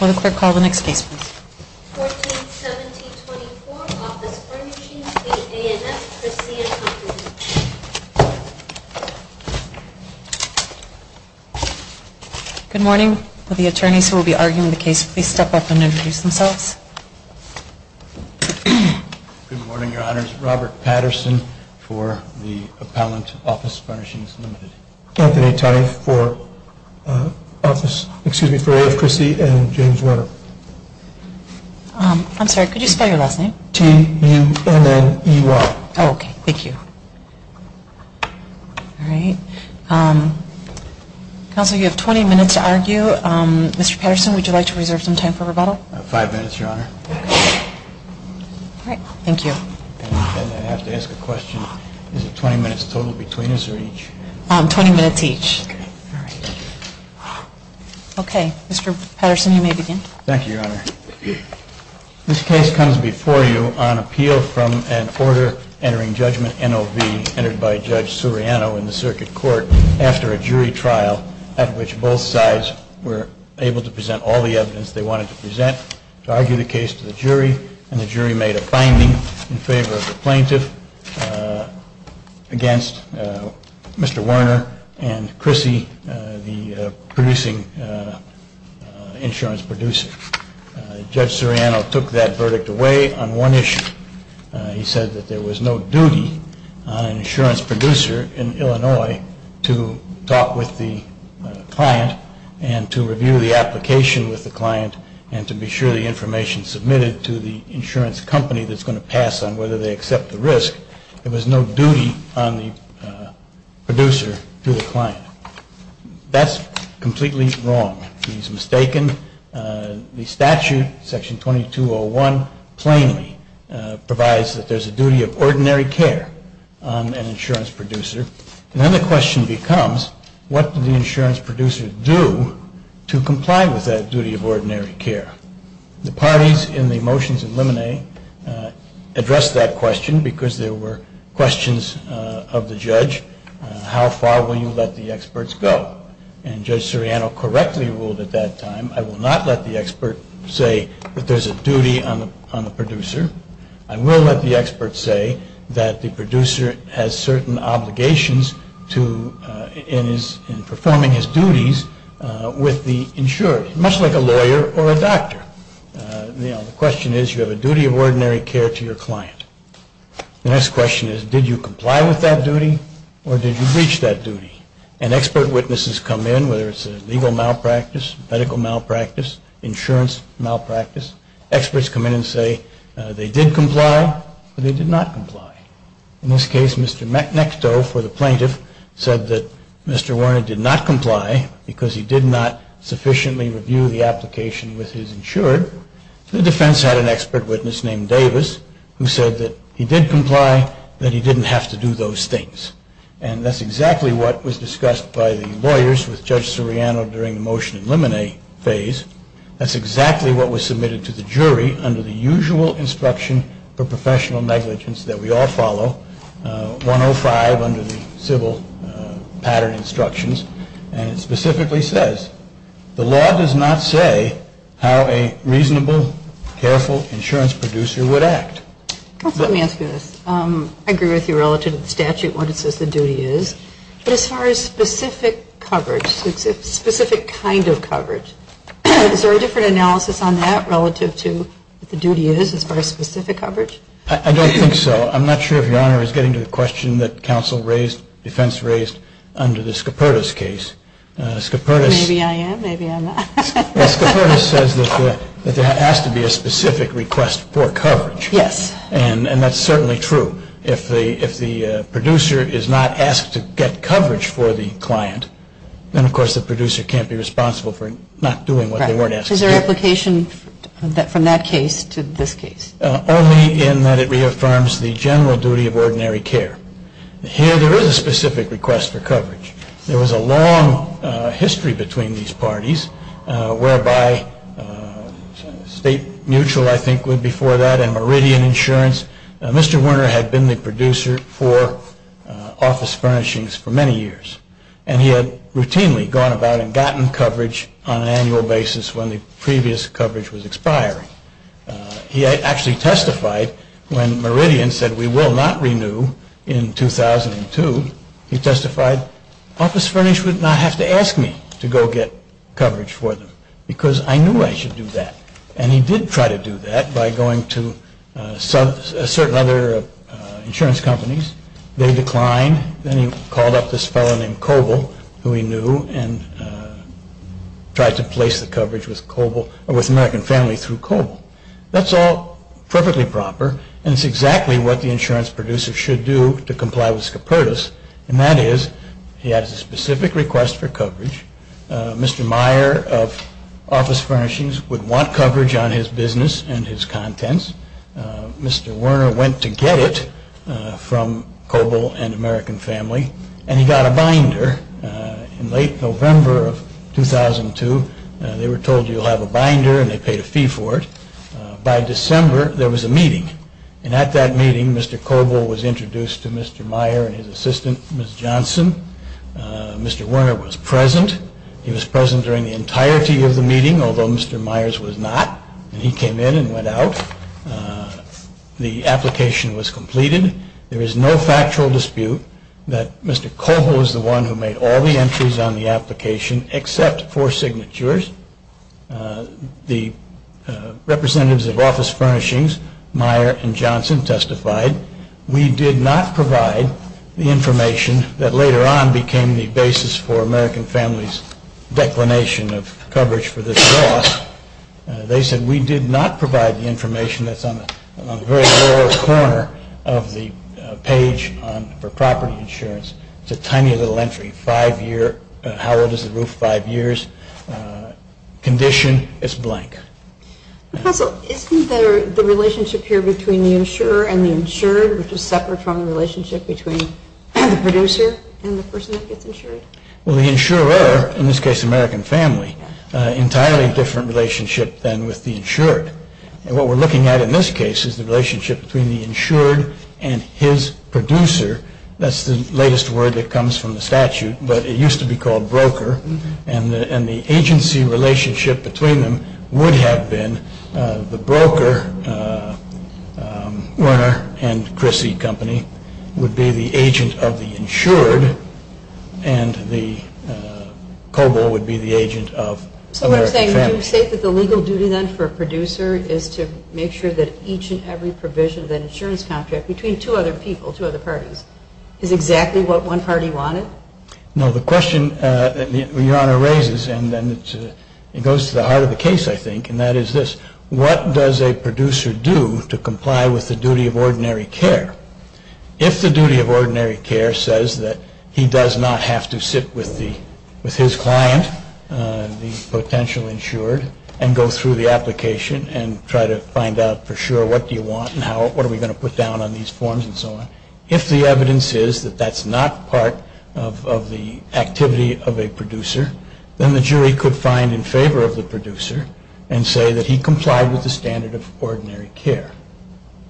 141724, Office Furnishings, Ltd. v. A.F. Crisse & Co., Ltd. Good morning. Will the attorneys who will be arguing the case please step up and introduce themselves. Good morning, Your Honors. Robert Patterson for the appellant, Office Furnishings, Ltd. Anthony Tye for A.F. Crisse & Co., Ltd. I'm sorry, could you spell your last name? T-U-N-N-E-Y. Oh, okay. Thank you. All right. Counsel, you have 20 minutes to argue. Mr. Patterson, would you like to reserve some time for rebuttal? Five minutes, Your Honor. All right. Thank you. And I have to ask a question. Is it 20 minutes total between us or each? 20 minutes each. Okay. All right. Okay. Mr. Patterson, you may begin. Thank you, Your Honor. This case comes before you on appeal from an order entering judgment NOV entered by Judge Suriano in the circuit court after a jury trial, at which both sides were able to present all the evidence they wanted to present to argue the case to the jury, and the jury made a finding in favor of the plaintiff against Mr. Werner and Crisse, the producing insurance producer. Judge Suriano took that verdict away on one issue. He said that there was no duty on an insurance producer in Illinois to talk with the client and to review the application with the client and to be sure the information submitted to the insurance company that's going to pass on whether they accept the risk. There was no duty on the producer to the client. That's completely wrong. He's mistaken. The statute, section 2201, plainly provides that there's a duty of ordinary care on an insurance producer. And then the question becomes, what did the insurance producer do to comply with that duty of ordinary care? The parties in the motions in limine addressed that question because there were questions of the judge. How far will you let the experts go? And Judge Suriano correctly ruled at that time, I will not let the expert say that there's a duty on the producer. I will let the expert say that the producer has certain obligations in performing his duties with the insurer, much like a lawyer or a doctor. The question is, you have a duty of ordinary care to your client. The next question is, did you comply with that duty or did you breach that duty? And expert witnesses come in, whether it's a legal malpractice, medical malpractice, insurance malpractice. Experts come in and say they did comply or they did not comply. In this case, Mr. McNextoe, for the plaintiff, said that Mr. Warner did not comply because he did not sufficiently review the application with his insured. The defense had an expert witness named Davis who said that he did comply, that he didn't have to do those things. And that's exactly what was discussed by the lawyers with Judge Suriano during the motion in limine phase. That's exactly what was submitted to the jury under the usual instruction for professional negligence that we all follow, 105 under the civil pattern instructions. And it specifically says, the law does not say how a reasonable, careful insurance producer would act. Let me ask you this. I agree with you relative to the statute when it says the duty is. But as far as specific coverage, specific kind of coverage, is there a different analysis on that relative to what the duty is as far as specific coverage? I don't think so. I'm not sure if Your Honor is getting to the question that counsel raised, defense raised under the Scopertis case. Maybe I am, maybe I'm not. Scopertis says that there has to be a specific request for coverage. Yes. And that's certainly true. If the producer is not asked to get coverage for the client, then of course the producer can't be responsible for not doing what they weren't asked to do. Is there an application from that case to this case? Only in that it reaffirms the general duty of ordinary care. Here there is a specific request for coverage. There was a long history between these parties whereby state mutual I think went before that and Meridian Insurance. Mr. Werner had been the producer for office furnishings for many years. And he had routinely gone about and gotten coverage on an annual basis when the previous coverage was expiring. He actually testified when Meridian said we will not renew in 2002. He testified office furnish would not have to ask me to go get coverage for them because I knew I should do that. And he did try to do that by going to certain other insurance companies. They declined. Then he called up this fellow named Coble who he knew and tried to place the coverage with Coble or with American Family through Coble. That's all perfectly proper. And it's exactly what the insurance producer should do to comply with Scopertis. And that is he has a specific request for coverage. Mr. Meyer of office furnishings would want coverage on his business and his contents. Mr. Werner went to get it from Coble and American Family. And he got a binder in late November of 2002. They were told you'll have a binder and they paid a fee for it. By December there was a meeting. And at that meeting Mr. Coble was introduced to Mr. Meyer and his assistant Ms. Johnson. Mr. Werner was present. He was present during the entirety of the meeting, although Mr. Myers was not. And he came in and went out. The application was completed. There is no factual dispute that Mr. Coble was the one who made all the entries on the application except for signatures. The representatives of office furnishings, Meyer and Johnson, testified. We did not provide the information that later on became the basis for American Family's declination of coverage for this loss. They said we did not provide the information that's on the very lower corner of the page for property insurance. It's a tiny little entry. How old is the roof? Condition? It's blank. Professor, isn't the relationship here between the insurer and the insured, which is separate from the relationship between the producer and the person that gets insured? Well, the insurer, in this case American Family, entirely different relationship than with the insured. And what we're looking at in this case is the relationship between the insured and his producer. That's the latest word that comes from the statute, but it used to be called broker. And the agency relationship between them would have been the broker, Werner and Chrissy Company, would be the agent of the insured, and the Coble would be the agent of American Family. So what you're saying, would you say that the legal duty then for a producer is to make sure that each and every provision of that insurance contract, between two other people, two other parties, is exactly what one party wanted? No. The question that Your Honor raises, and it goes to the heart of the case, I think, and that is this. What does a producer do to comply with the duty of ordinary care? If the duty of ordinary care says that he does not have to sit with his client, the potential insured, and go through the application and try to find out for sure what do you want and what are we going to put down on these forms and so on, if the evidence is that that's not part of the activity of a producer, then the jury could find in favor of the producer and say that he complied with the standard of ordinary care.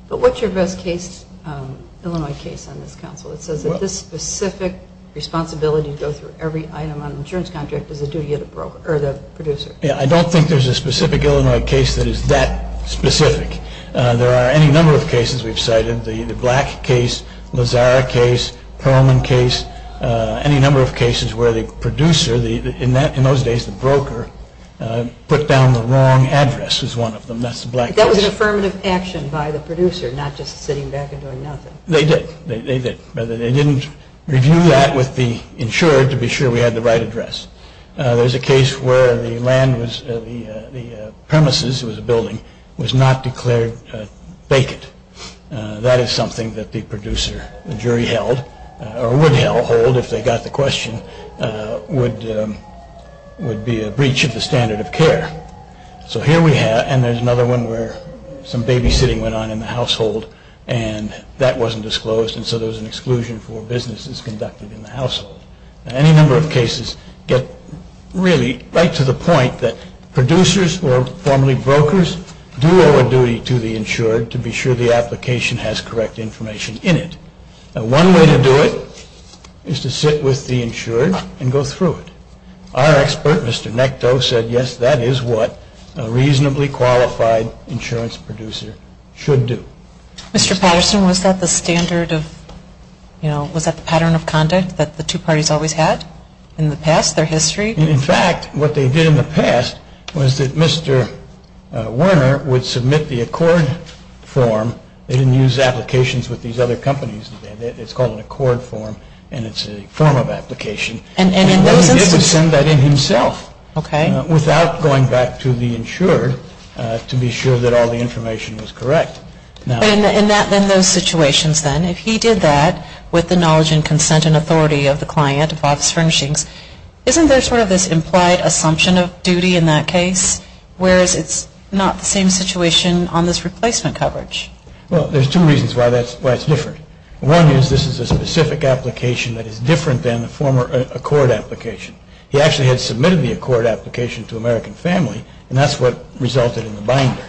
But what's your best case, Illinois case, on this counsel? It says that this specific responsibility to go through every item on an insurance contract is the duty of the producer. Yeah, I don't think there's a specific Illinois case that is that specific. There are any number of cases we've cited, the Black case, Lazara case, Perlman case, any number of cases where the producer, in those days the broker, put down the wrong address as one of them. That was an affirmative action by the producer, not just sitting back and doing nothing. They did. They didn't review that with the insured to be sure we had the right address. There's a case where the land was, the premises, it was a building, was not declared vacant. That is something that the producer, the jury held, or would hold if they got the question, would be a breach of the standard of care. So here we have, and there's another one where some babysitting went on in the household and that wasn't disclosed and so there was an exclusion for businesses conducted in the household. Any number of cases get really right to the point that producers or formerly brokers do owe a duty to the insured to be sure the application has correct information in it. One way to do it is to sit with the insured and go through it. Our expert, Mr. Nectow, said yes, that is what a reasonably qualified insurance producer should do. Mr. Patterson, was that the standard of, you know, was that the pattern of conduct that the two parties always had in the past, their history? In fact, what they did in the past was that Mr. Werner would submit the accord form. They didn't use applications with these other companies. It's called an accord form and it's a form of application. And what he did was send that in himself without going back to the insured to be sure that all the information was correct. But in those situations then, if he did that with the knowledge and consent and authority of the client, of office furnishings, isn't there sort of this implied assumption of duty in that case, whereas it's not the same situation on this replacement coverage? Well, there's two reasons why it's different. One is this is a specific application that is different than the former accord application. He actually had submitted the accord application to American Family and that's what resulted in the binder.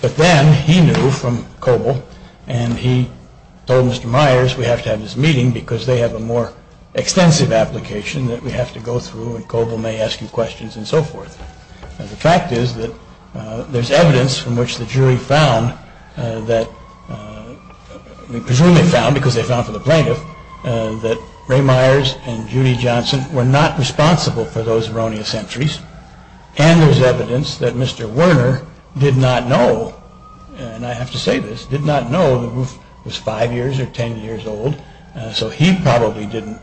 But then he knew from Coble and he told Mr. Myers we have to have this meeting because they have a more extensive application that we have to go through and Coble may ask you questions and so forth. The fact is that there's evidence from which the jury found that, presumably found because they found from the plaintiff, that Ray Myers and Judy Johnson were not responsible for those erroneous entries and there's evidence that Mr. Werner did not know, and I have to say this, did not know the roof was five years or ten years old so he probably didn't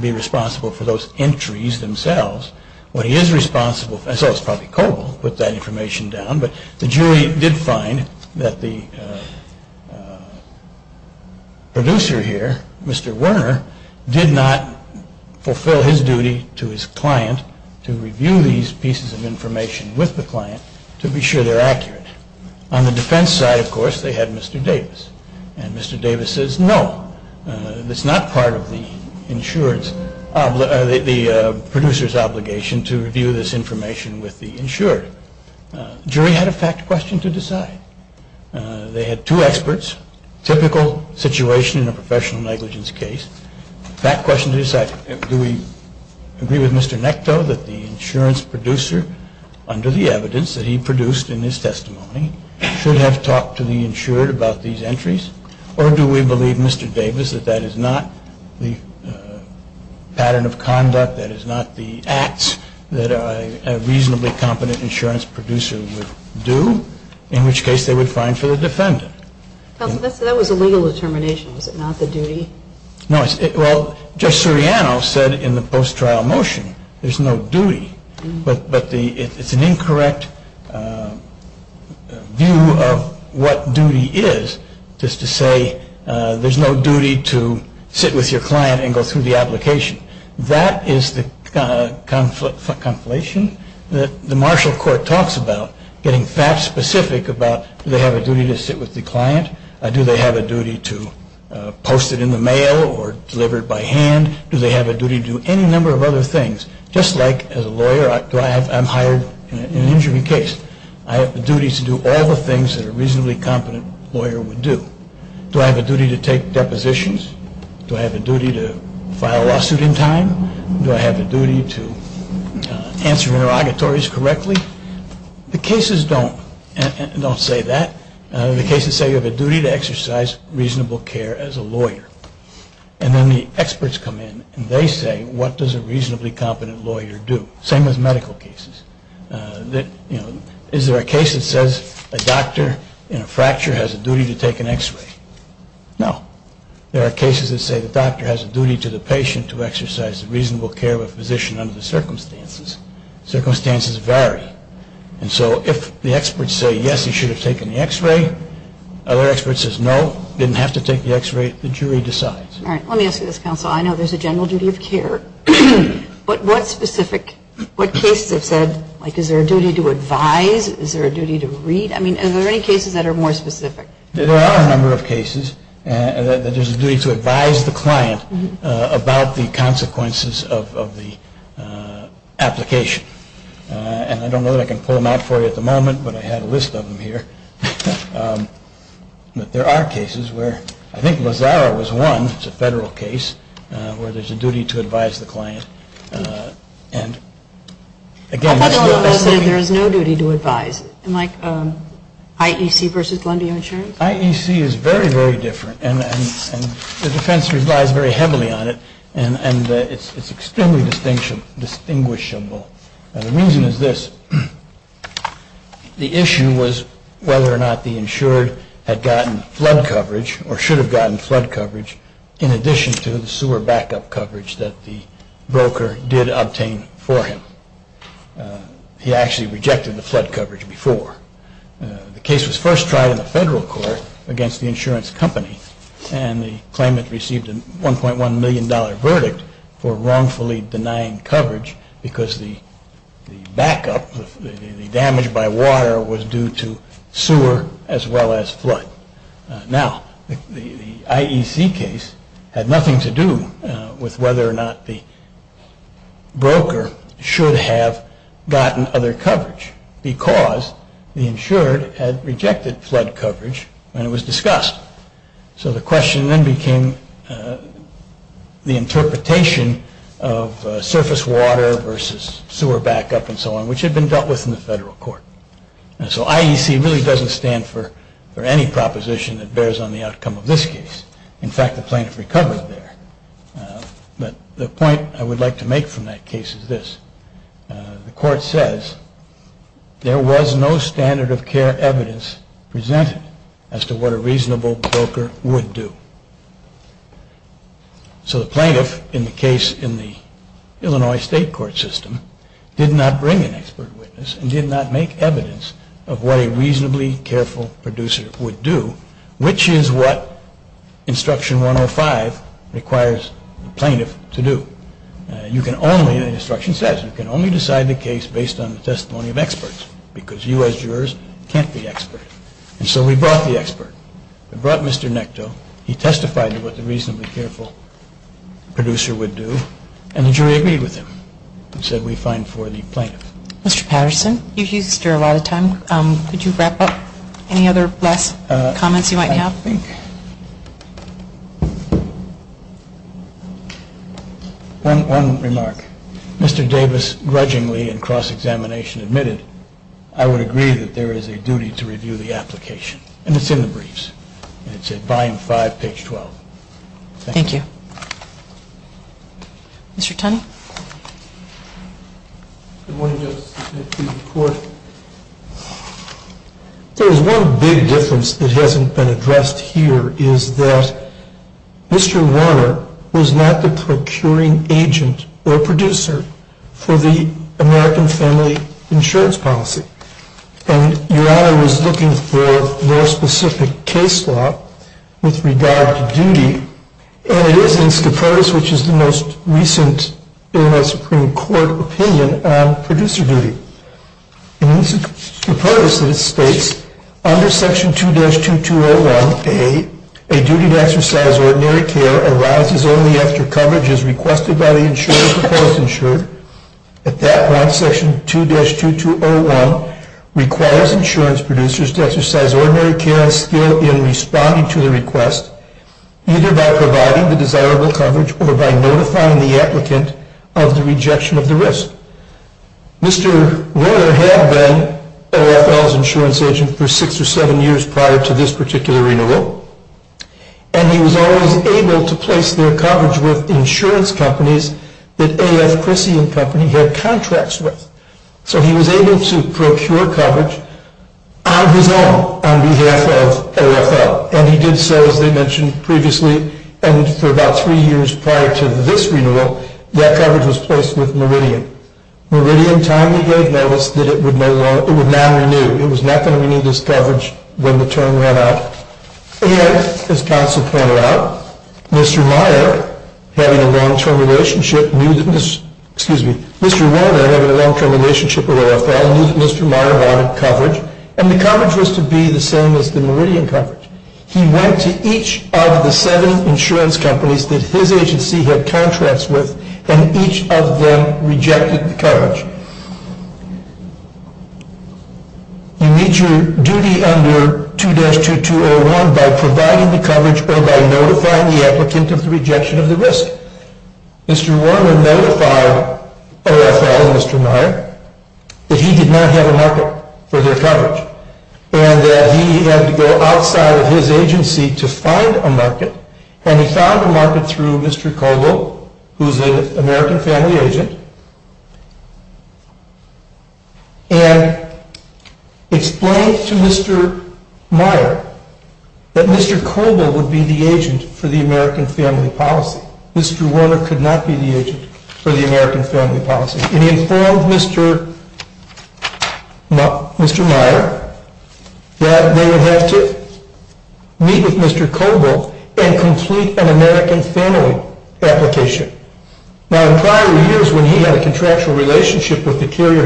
be responsible for those entries themselves. What he is responsible for, and so it's probably Coble who put that information down, but the jury did find that the producer here, Mr. Werner, did not fulfill his duty to his client to review these pieces of information with the client to be sure they're accurate. On the defense side, of course, they had Mr. Davis and Mr. Davis says no. It's not part of the producer's obligation to review this information with the insured. The jury had a fact question to decide. They had two experts, typical situation in a professional negligence case. Fact question to decide, do we agree with Mr. Nectow that the insurance producer, under the evidence that he produced in his testimony, should have talked to the insured about these entries or do we believe, Mr. Davis, that that is not the pattern of conduct, that is not the acts that a reasonably competent insurance producer would do, in which case they would find for the defendant. That was a legal determination, was it not, the duty? No, well, Judge Suriano said in the post-trial motion there's no duty, but it's an incorrect view of what duty is just to say there's no duty to sit with your client and go through the application. That is the conflation that the Marshall Court talks about, getting fact specific about do they have a duty to sit with the client? Do they have a duty to post it in the mail or deliver it by hand? Do they have a duty to do any number of other things? Just like as a lawyer, I'm hired in an injury case. I have a duty to do all the things that a reasonably competent lawyer would do. Do I have a duty to take depositions? Do I have a duty to file a lawsuit in time? Do I have a duty to answer interrogatories correctly? The cases don't say that. The cases say you have a duty to exercise reasonable care as a lawyer. And then the experts come in and they say what does a reasonably competent lawyer do? Same with medical cases. Is there a case that says a doctor in a fracture has a duty to take an x-ray? No. There are cases that say the doctor has a duty to the patient to exercise reasonable care of a physician under the circumstances. Circumstances vary. And so if the experts say yes, he should have taken the x-ray, other experts say no, didn't have to take the x-ray, the jury decides. All right. Let me ask you this, counsel. I know there's a general duty of care, but what specific, what cases have said, like is there a duty to advise? Is there a duty to read? I mean, are there any cases that are more specific? There are a number of cases that there's a duty to advise the client about the consequences of the application. And I don't know that I can pull them out for you at the moment, but I have a list of them here. But there are cases where I think Lazaro was one, it's a federal case, where there's a duty to advise the client. And, again, that's still a specific. There is no duty to advise. Like IEC versus Glendale Insurance? IEC is very, very different. And the defense relies very heavily on it. And it's extremely distinguishable. The reason is this. The issue was whether or not the insured had gotten flood coverage or should have gotten flood coverage in addition to the sewer backup coverage that the broker did obtain for him. He actually rejected the flood coverage before. The case was first tried in the federal court against the insurance company, and the claimant received a $1.1 million verdict for wrongfully denying coverage because the backup, the damage by water, was due to sewer as well as flood. Now, the IEC case had nothing to do with whether or not the broker should have gotten other coverage because the insured had rejected flood coverage when it was discussed. So the question then became the interpretation of surface water versus sewer backup and so on, which had been dealt with in the federal court. And so IEC really doesn't stand for any proposition that bears on the outcome of this case. In fact, the plaintiff recovered there. But the point I would like to make from that case is this. The court says there was no standard of care evidence presented as to what a reasonable broker would do. So the plaintiff in the case in the Illinois state court system did not bring an expert witness and did not make evidence of what a reasonably careful producer would do, which is what Instruction 105 requires the plaintiff to do. You can only, the instruction says, you can only decide the case based on the testimony of experts because you as jurors can't be experts. And so we brought the expert. We brought Mr. Nectow. He testified to what the reasonably careful producer would do, and the jury agreed with him and said we're fine for the plaintiff. Mr. Patterson, you've used your allotted time. Thank you. Could you wrap up? Any other last comments you might have? I think one remark. Mr. Davis grudgingly in cross-examination admitted I would agree that there is a duty to review the application. And it's in the briefs. It's at volume 5, page 12. Thank you. Mr. Tunney? Good morning, Justice. Thank you for your report. There is one big difference that hasn't been addressed here, is that Mr. Warner was not the procuring agent or producer for the American Family Insurance Policy. And Your Honor was looking for more specific case law with regard to duty, and it is in SCOPOTUS, which is the most recent Illinois Supreme Court opinion on producer duty. In SCOPOTUS, it states under Section 2-2201A, a duty to exercise ordinary care arises only after coverage is requested by the insured or post-insured. At that point, Section 2-2201 requires insurance producers to exercise or post-insured care by providing the desirable coverage or by notifying the applicant of the rejection of the risk. Mr. Warner had been AFL's insurance agent for six or seven years prior to this particular renewal, and he was always able to place their coverage with insurance companies that AF Chrissy and Company had contracts with. So he was able to procure coverage on his own on behalf of AFL. And he did so, as they mentioned previously, and for about three years prior to this renewal, that coverage was placed with Meridian. Meridian timely gave notice that it would not renew. It was not going to renew this coverage when the term ran out. And as counsel pointed out, Mr. Warner, having a long-term relationship with AFL, knew that Mr. Meyer wanted coverage, and the coverage was to be the same as the Meridian coverage. He went to each of the seven insurance companies that his agency had contracts with, and each of them rejected the coverage. You meet your duty under 2-2201 by providing the coverage or by notifying the applicant of the rejection of the risk. Mr. Warner notified AFL and Mr. Meyer that he did not have a market for their coverage and that he had to go outside of his agency to find a market. And he found a market through Mr. Kobel, who is an American family agent, and explained to Mr. Meyer that Mr. Kobel would be the agent for the American family policy. Mr. Warner could not be the agent for the American family policy. And he informed Mr. Meyer that they would have to meet with Mr. Kobel and complete an American family application. Now, in prior years, when he had a contractual relationship with the carrier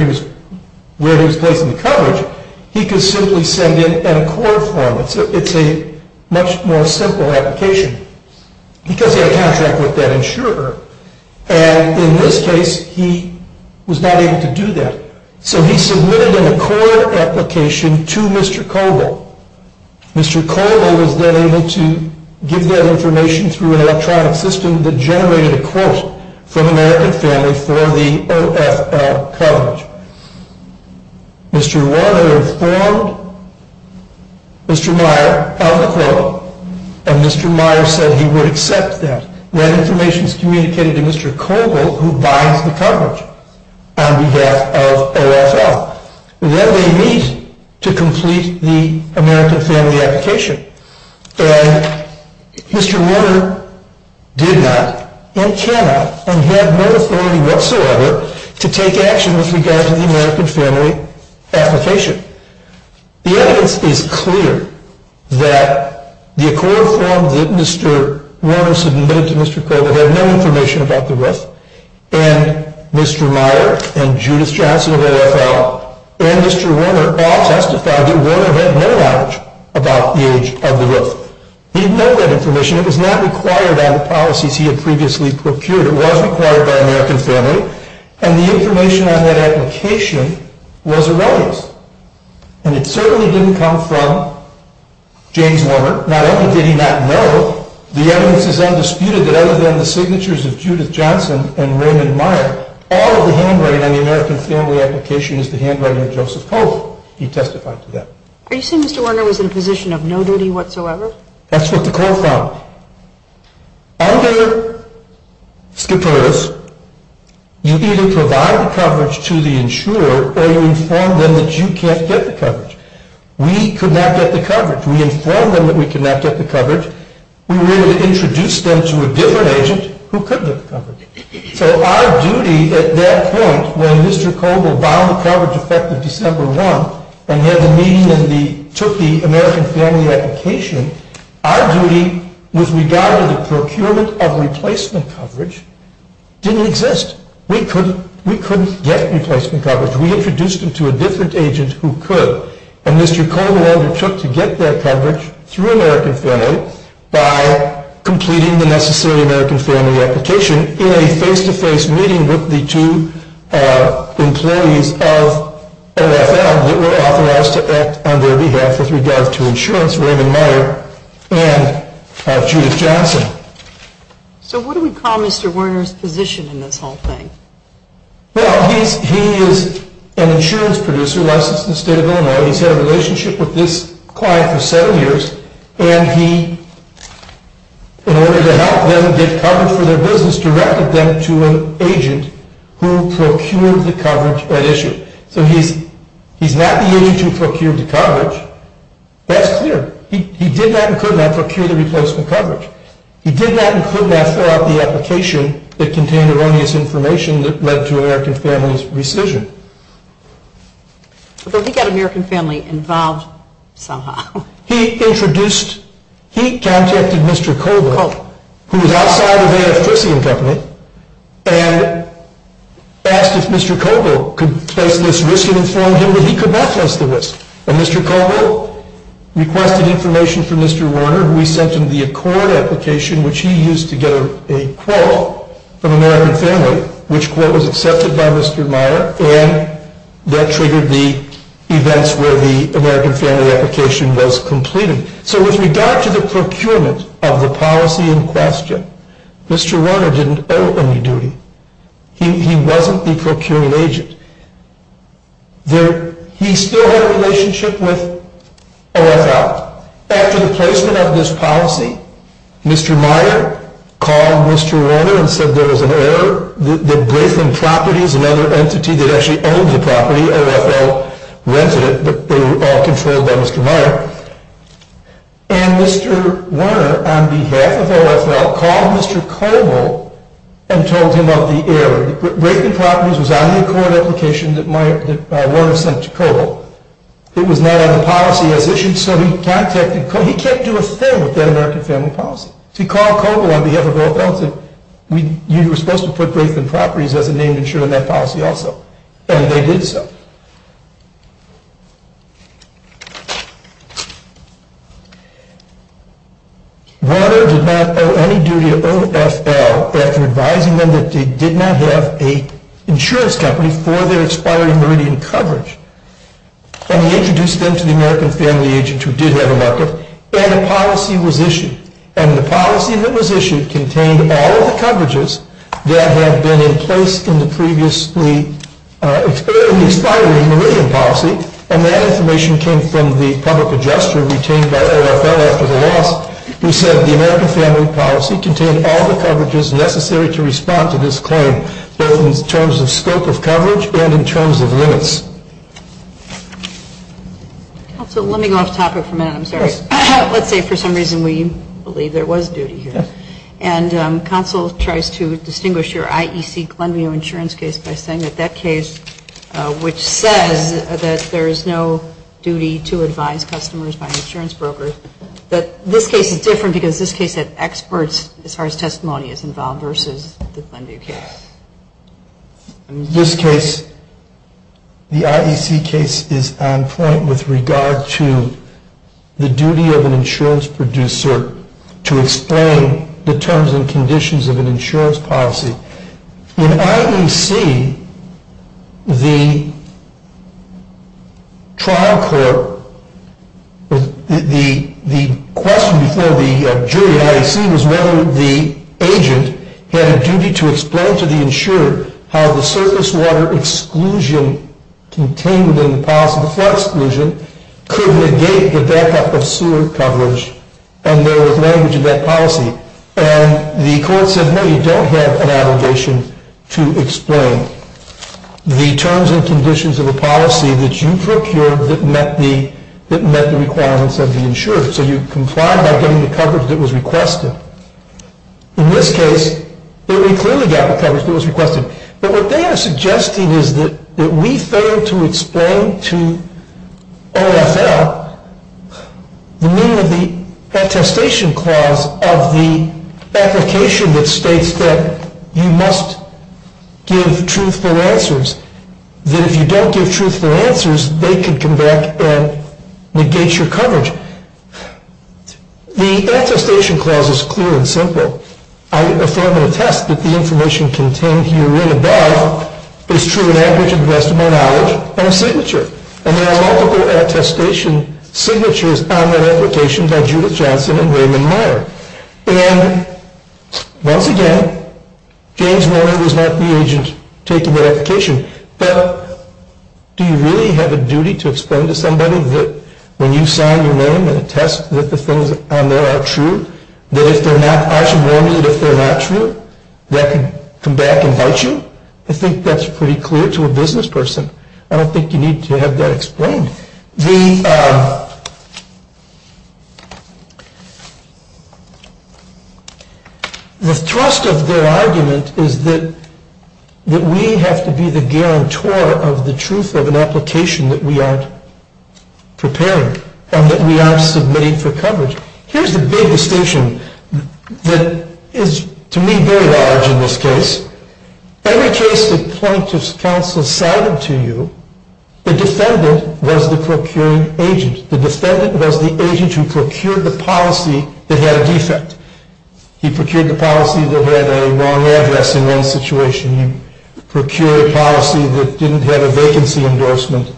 where he was placing the coverage, he could simply send in an accord form. It's a much more simple application because he had a contract with that insurer. And in this case, he was not able to do that. So he submitted an accord application to Mr. Kobel. Mr. Kobel was then able to give that information through an electronic system that generated a quote from the American family for the OFL coverage. Mr. Warner informed Mr. Meyer of the quote, and Mr. Meyer said he would accept that. And that information is communicated to Mr. Kobel, who buys the coverage on behalf of OFL. Then they meet to complete the American family application. And Mr. Warner did not, and cannot, and had no authority whatsoever to take action with regard to the American family application. The evidence is clear that the accord form that Mr. Warner submitted to Mr. Kobel had no information about the roof. And Mr. Meyer and Judith Johnson of OFL and Mr. Warner all testified that Warner had no knowledge about the age of the roof. He didn't know that information. It was not required on the policies he had previously procured. It was required by American family. And the information on that application was irrelevant. And it certainly didn't come from James Warner. Not only did he not know, the evidence is undisputed that other than the signatures of Judith Johnson and Raymond Meyer, all of the handwriting on the American family application is the handwriting of Joseph Cole. He testified to that. Are you saying Mr. Warner was in a position of no duty whatsoever? That's what the Cole found. Under SCPURS, you either provide the coverage to the insurer or you inform them that you can't get the coverage. We could not get the coverage. We informed them that we could not get the coverage. We were able to introduce them to a different agent who could get the coverage. So our duty at that point when Mr. Kobel bound the coverage effective December 1 and had the meeting and took the American family application, our duty with regard to the procurement of replacement coverage didn't exist. We couldn't get replacement coverage. We introduced them to a different agent who could. And Mr. Cole and Walter took to get their coverage through American family by completing the necessary American family application in a face-to-face meeting with the two employees of NFL that were authorized to act on their behalf with regard to insurance, Raymond Meyer and Judith Johnson. So what do we call Mr. Warner's position in this whole thing? Well, he is an insurance producer licensed in the state of Illinois. He's had a relationship with this client for seven years. And he, in order to help them get coverage for their business, directed them to an agent who procured the coverage at issue. So he's not the agent who procured the coverage. That's clear. He did not include or procure the replacement coverage. He did not include or fill out the application that contained erroneous information that led to American family's rescission. But he got American family involved somehow. He introduced, he contacted Mr. Kobel, who was outside of the air friction company, and asked if Mr. Kobel could place this risk and informed him that he could not place the risk. And Mr. Kobel requested information from Mr. Warner. We sent him the accord application, which he used to get a quote from American family, which quote was accepted by Mr. Meyer, and that triggered the events where the American family application was completed. So with regard to the procurement of the policy in question, Mr. Warner didn't owe any duty. He wasn't the procuring agent. He still had a relationship with OFL. After the placement of this policy, Mr. Meyer called Mr. Warner and said there was an error, that Griffin Properties, another entity that actually owned the property, OFL rented it, but they were all controlled by Mr. Meyer. And Mr. Warner, on behalf of OFL, called Mr. Kobel and told him of the error. Griffin Properties was on the accord application that Warner sent to Kobel. It was not on the policy as issued, so he contacted Kobel. He can't do a thing with that American family policy. He called Kobel on behalf of OFL and said, you were supposed to put Griffin Properties as a name and share in that policy also. And they did so. Warner did not owe any duty to OFL after advising them that they did not have an insurance company for their expiring meridian coverage. And he introduced them to the American family agent who did have a market, and a policy was issued. And the policy that was issued contained all of the coverages that had been in place in the previously expiring meridian policy, and that information came from the public adjuster retained by OFL after the loss, who said the American family policy contained all the coverages necessary to respond to this claim, both in terms of scope of coverage and in terms of limits. Counsel, let me go off topic for a minute. I'm sorry. Let's say for some reason we believe there was duty here, and counsel tries to distinguish your IEC Glenview insurance case by saying that that case, which says that there is no duty to advise customers by an insurance broker, that this case is different because this case had experts as far as testimony is involved versus the Glenview case. In this case, the IEC case is on point with regard to the duty of an insurance producer to explain the terms and conditions of an insurance policy. In IEC, the trial court, the question before the jury in IEC was whether the agent had a duty to explain to the insurer how the surface water exclusion contained in the policy, the flood exclusion, could negate the backup of sewer coverage, and there was language in that policy. And the court said, no, you don't have an obligation to explain the terms and conditions of a policy that you procured that met the requirements of the insurer. So you complied by getting the coverage that was requested. In this case, it clearly got the coverage that was requested. But what they are suggesting is that we fail to explain to OFL the meaning of the attestation clause of the application that states that you must give truthful answers, that if you don't give truthful answers, they can come back and negate your coverage. The attestation clause is clear and simple. I affirm and attest that the information contained herein above is true on average And there are multiple attestation signatures on that application by Judith Johnson and Raymond Meyer. And once again, James Warren was not the agent taking that application. But do you really have a duty to explain to somebody that when you sign your name and attest that the things on there are true, that if they're not, I should warn you that if they're not true, they can come back and bite you? I think that's pretty clear to a business person. I don't think you need to have that explained. The thrust of their argument is that we have to be the guarantor of the truth of an application that we aren't preparing and that we aren't submitting for coverage. Here's the big distinction that is, to me, very large in this case. Every case that plaintiff's counsel cited to you, the defendant was the procuring agent. The defendant was the agent who procured the policy that had a defect. He procured the policy that had a wrong address in one situation. He procured a policy that didn't have a vacancy endorsement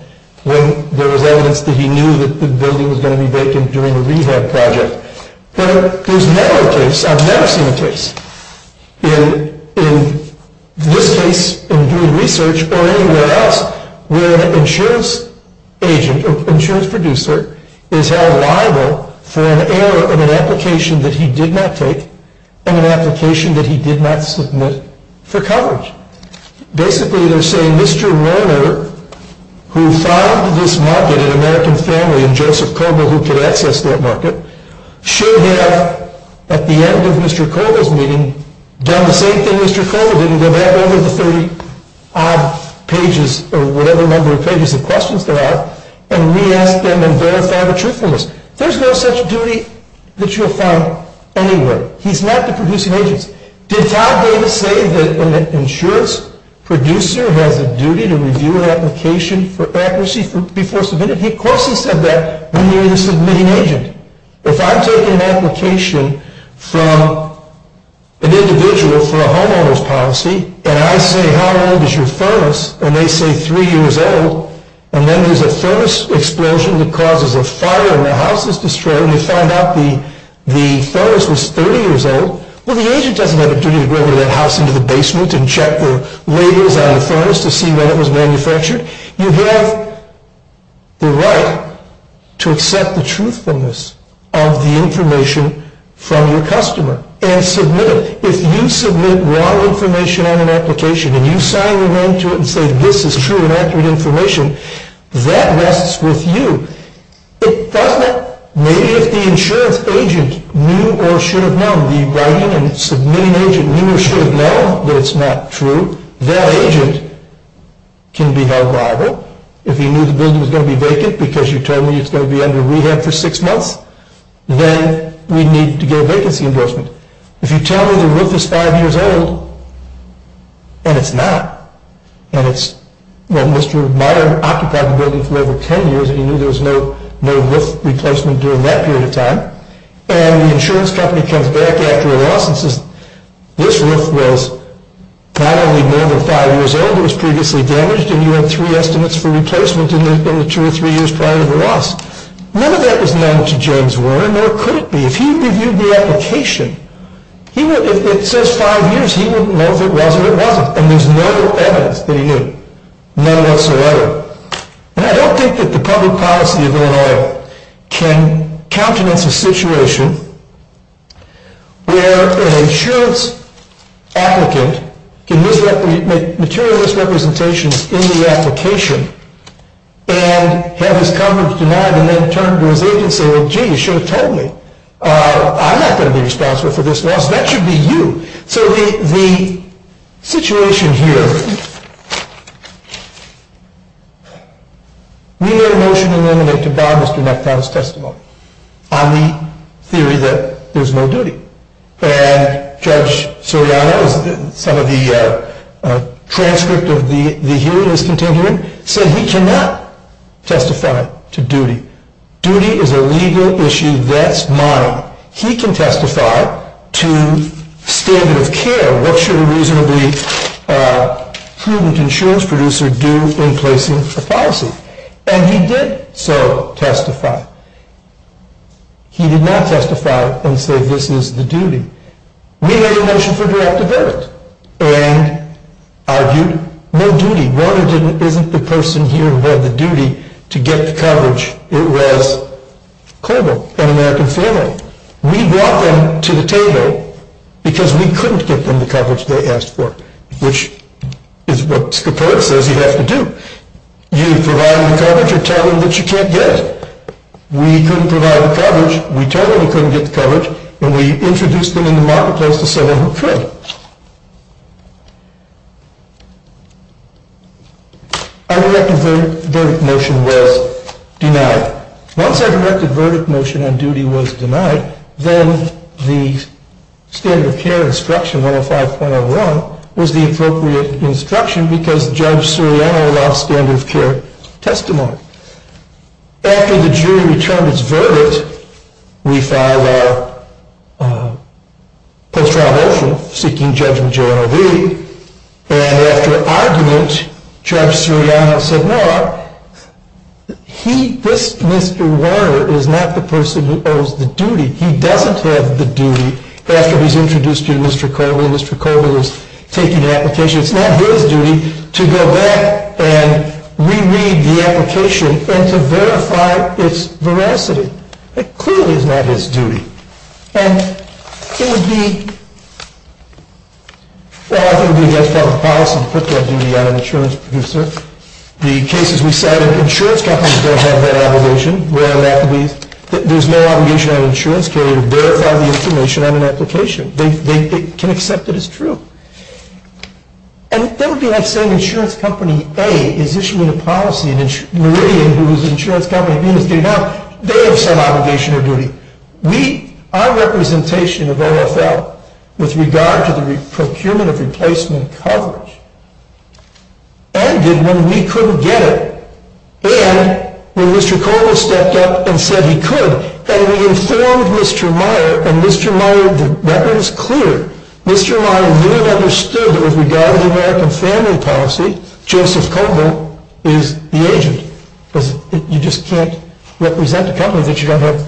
when there was evidence that he knew that the building was going to be vacant during a rehab project. There's never a case, I've never seen a case in this case, in doing research, or anywhere else, where an insurance agent or insurance producer is held liable for an error in an application that he did not take and an application that he did not submit for coverage. Basically, they're saying Mr. Warner, who found this market, an American family, and Joseph Coble, who could access that market, should have, at the end of Mr. Coble's meeting, done the same thing Mr. Coble did and go back over the 30-odd pages, or whatever number of pages of questions there are, and re-ask them and verify the truthfulness. There's no such duty that you'll find anywhere. He's not the producing agent. Did Todd Davis say that an insurance producer has a duty to review an application for accuracy before submitting it? He of course has said that when you're the submitting agent. If I'm taking an application from an individual for a homeowner's policy, and I say how old is your furnace, and they say three years old, and then there's a furnace explosion that causes a fire and the house is destroyed, and they find out the furnace was 30 years old, well, the agent doesn't have a duty to go over to that house into the basement and check the labels on the furnace to see whether it was manufactured. You have the right to accept the truthfulness of the information from your customer and submit it. If you submit wrong information on an application and you sign them into it and say this is true and accurate information, that rests with you. It doesn't. Maybe if the insurance agent knew or should have known, the writing and submitting agent knew or should have known that it's not true, that agent can be held liable. If he knew the building was going to be vacant because you told me it's going to be under rehab for six months, then we need to get a vacancy endorsement. If you tell me the roof is five years old, and it's not, and Mr. Meier occupied the building for over ten years and he knew there was no roof replacement during that period of time, and the insurance company comes back after a loss and says, this roof was not only more than five years old, it was previously damaged, and you had three estimates for replacement in the two or three years prior to the loss. None of that was known to James Warren, nor could it be. If he had reviewed the application, if it says five years, he wouldn't know if it was or it wasn't. And there's no evidence that he knew, none whatsoever. And I don't think that the public policy of Illinois can countenance a situation where an insurance applicant can make materialist representations in the application and have his coverage denied and then turn to his agency and say, gee, you should have told me. I'm not going to be responsible for this loss. That should be you. So the situation here, we were motioned and eliminated by Mr. McDonough's testimony on the theory that there's no duty. And Judge Soriano, some of the transcript of the hearing is continuing, said he cannot testify to duty. Duty is a legal issue that's mine. He can testify to standard of care. What should a reasonably prudent insurance producer do in placing a policy? And he did so testify. He did not testify and say this is the duty. We had a motion for direct evidence and argued no duty. The one who isn't the person here who had the duty to get the coverage, it was Colville, an American family. We brought them to the table because we couldn't get them the coverage they asked for, which is what Scoperta says you have to do. You provide the coverage or tell them that you can't get it. We couldn't provide the coverage. We told them we couldn't get the coverage. And we introduced them in the marketplace to someone who could. Our direct verdict motion was denied. Once our direct verdict motion on duty was denied, then the standard of care instruction, 105.01, was the appropriate instruction because Judge Soriano lost standard of care testimony. After the jury returned its verdict, we filed our post-trial motion seeking Judge Majoreau to leave. And after argument, Judge Soriano said, no, this Mr. Warner is not the person who owes the duty. He doesn't have the duty after he's introduced to Mr. Colville and Mr. Colville is taking an application. It's not his duty to go back and re-read the application and to verify its veracity. It clearly is not his duty. And it would be, well, I think it would be against public policy to put that duty on an insurance producer. The cases we cited, insurance companies don't have that obligation. There's no obligation on an insurance carrier to verify the information on an application. They can accept it as true. And that would be like saying insurance company A is issuing a policy, and Meridian, whose insurance company B is getting out, they have some obligation or duty. Our representation of OFL with regard to the procurement of replacement coverage ended when we couldn't get it. And when Mr. Colville stepped up and said he could, and we informed Mr. Meyer, and Mr. Meyer, the record is clear, Mr. Meyer really understood that with regard to the American family policy, Joseph Colville is the agent. Because you just can't represent a company that you don't have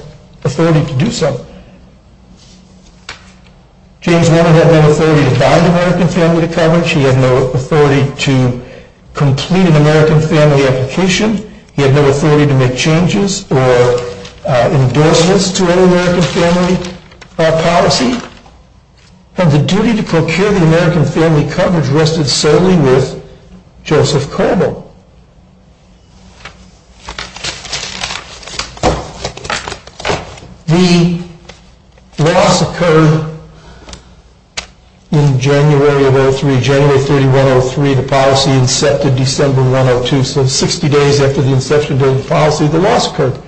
authority to do so. James Warner had no authority to buy the American family coverage. He had no authority to complete an American family application. He had no authority to make changes or endorsements to any American family policy. And the duty to procure the American family coverage rested solely with Joseph Colville. The loss occurred in January of 03, January 31, 03. The policy incepted December 102, so 60 days after the inception of the policy, the loss occurred.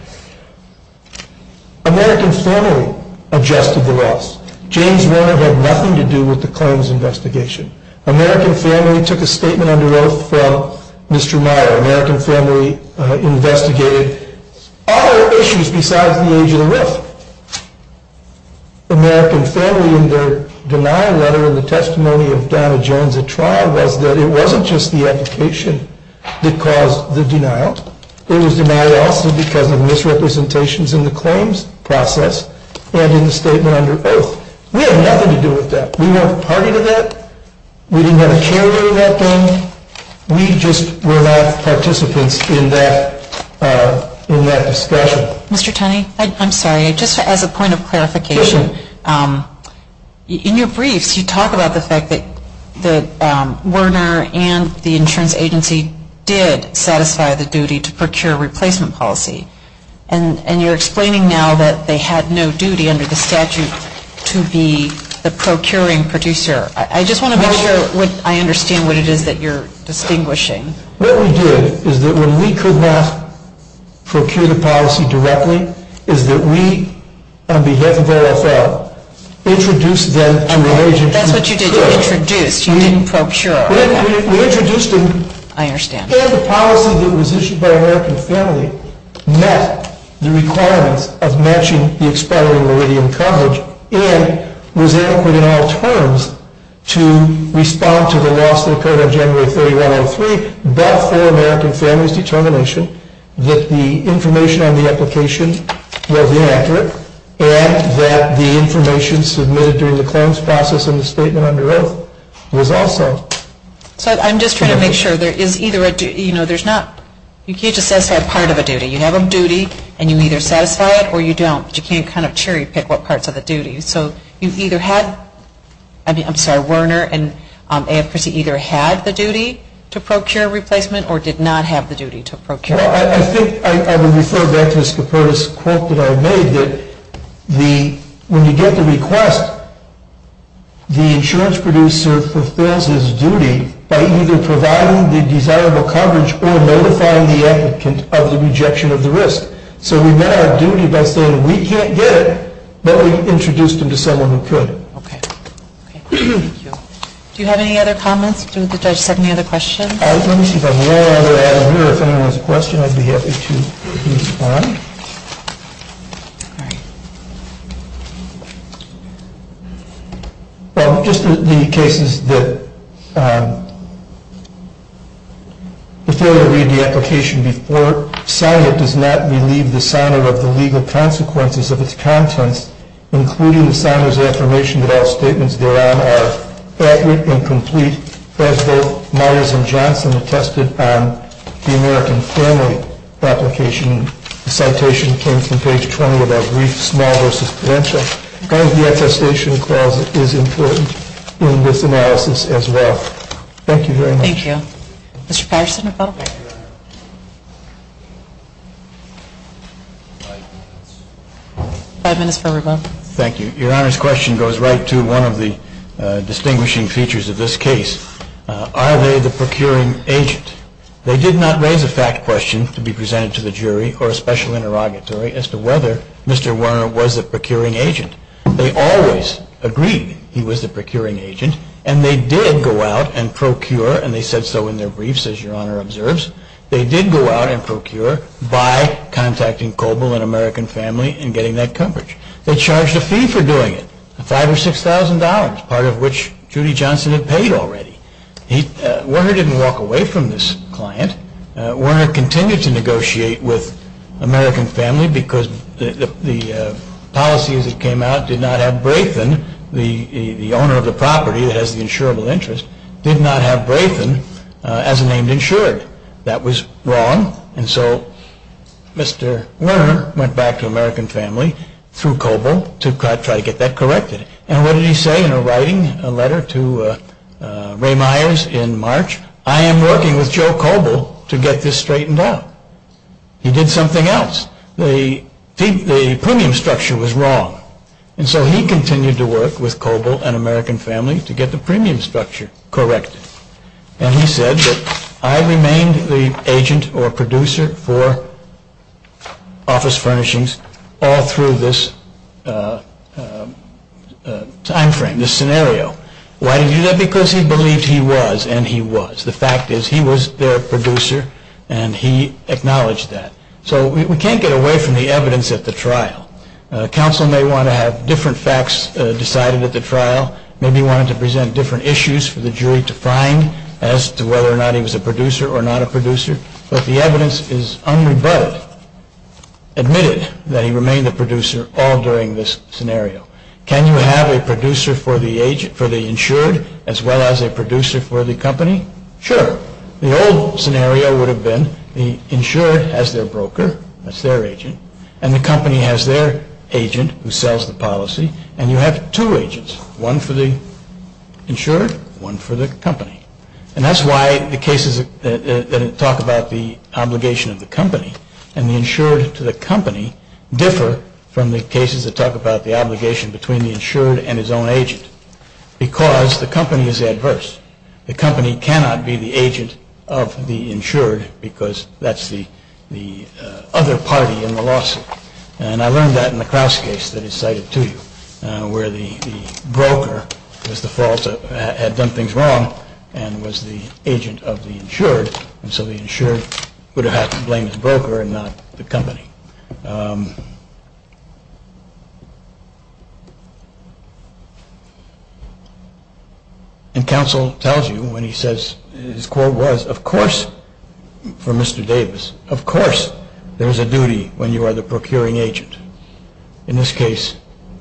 American family adjusted the loss. James Warner had nothing to do with the claims investigation. American family took a statement under oath from Mr. Meyer. American family investigated all issues besides the age of the roof. American family in their denial letter in the testimony of Donna Jones at trial was that it wasn't just the application that caused the denial. It was denial also because of misrepresentations in the claims process and in the statement under oath. We had nothing to do with that. We weren't a party to that. We didn't have a carrier in that thing. We just were not participants in that discussion. Mr. Tunney, I'm sorry. Just as a point of clarification, in your briefs you talk about the fact that Warner and the insurance agency did satisfy the duty to procure replacement policy. And you're explaining now that they had no duty under the statute to be the procuring producer. I just want to make sure I understand what it is that you're distinguishing. What we did is that when we could not procure the policy directly is that we, on behalf of OFL, introduced them to an agency. That's what you did. You introduced. You didn't procure. We introduced them. I understand. And the policy that was issued by American Family met the requirements of matching the expiring meridian coverage and was adequate in all terms to respond to the loss that occurred on January 31, 2003, but for American Family's determination that the information on the application was inaccurate and that the information submitted during the claims process and the statement under oath was also. So I'm just trying to make sure there is either a, you know, there's not, you can't just satisfy part of a duty. You have a duty and you either satisfy it or you don't. But you can't kind of cherry pick what parts of the duty. So you either had, I mean, I'm sorry, Warner and AFPC either had the duty to procure replacement I think I would refer back to this quote that I made that when you get the request, the insurance producer fulfills his duty by either providing the desirable coverage or notifying the applicant of the rejection of the risk. So we met our duty by saying we can't get it, but we introduced him to someone who could. Okay. Okay. Thank you. Do you have any other comments? Did the judge set any other questions? Let me see if I have one other item here. If anyone has a question, I'd be happy to respond. All right. Just the cases that, if you were to read the application before, sign it does not relieve the signer of the legal consequences of its contents, including the signer's affirmation that all statements thereon are accurate and complete, as both Myers and Johnson attested on the American Family application. The citation came from page 20 of our brief, Small v. Pudencia. The attestation clause is important in this analysis as well. Thank you very much. Thank you. Mr. Patterson. Five minutes for rebuttal. Thank you. Your Honor's question goes right to one of the distinguishing features of this case. Are they the procuring agent? They did not raise a fact question to be presented to the jury or a special interrogatory as to whether Mr. Werner was a procuring agent. They always agreed he was the procuring agent, and they did go out and procure, and they said so in their briefs, as Your Honor observes, they did go out and procure by contacting Coble and American Family and getting that coverage. They charged a fee for doing it, $5,000 or $6,000, part of which Judy Johnson had paid already. Werner didn't walk away from this client. Werner continued to negotiate with American Family because the policy as it came out did not have Braithen, the owner of the property that has the insurable interest, did not have Braithen as a named insured. That was wrong, and so Mr. Werner went back to American Family through Coble to try to get that corrected. And what did he say in a writing letter to Ray Myers in March? I am working with Joe Coble to get this straightened out. He did something else. The premium structure was wrong. And so he continued to work with Coble and American Family to get the premium structure corrected. And he said that I remained the agent or producer for office furnishings all through this time frame, this scenario. Why did he do that? Because he believed he was, and he was. The fact is he was their producer, and he acknowledged that. So we can't get away from the evidence at the trial. Maybe he wanted to present different issues for the jury to find as to whether or not he was a producer or not a producer, but the evidence is unrebutted, admitted that he remained the producer all during this scenario. Can you have a producer for the insured as well as a producer for the company? Sure. The old scenario would have been the insured has their broker, that's their agent, and the company has their agent who sells the policy, and you have two agents, one for the insured, one for the company. And that's why the cases that talk about the obligation of the company and the insured to the company differ from the cases that talk about the obligation between the insured and his own agent, because the company is adverse. The company cannot be the agent of the insured, because that's the other party in the lawsuit. And I learned that in the Krauss case that is cited to you, where the broker was the fault, had done things wrong, and was the agent of the insured, and so the insured would have had to blame the broker and not the company. And counsel tells you when he says, his quote was, of course, for Mr. Davis, of course there is a duty when you are the procuring agent. In this case,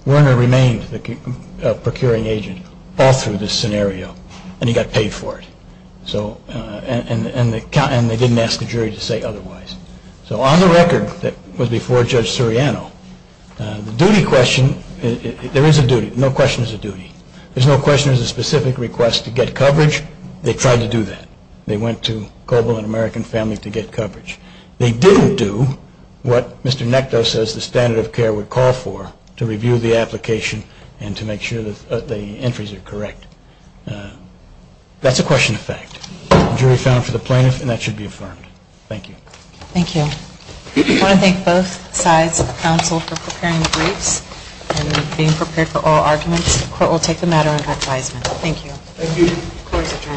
Werner remained the procuring agent all through this scenario, and he got paid for it. And they didn't ask the jury to say otherwise. So on the record that was before Judge Suriano, the duty question, there is a duty, no question is a duty. There is no question there is a specific request to get coverage. They tried to do that. They went to Coble and American Family to get coverage. They didn't do what Mr. Nectar says the standard of care would call for, to review the application and to make sure that the entries are correct. That's a question of fact. The jury found for the plaintiff, and that should be affirmed. Thank you. Thank you. I want to thank both sides of the council for preparing the briefs and being prepared for oral arguments. The court will take the matter under advisement. Thank you. Thank you.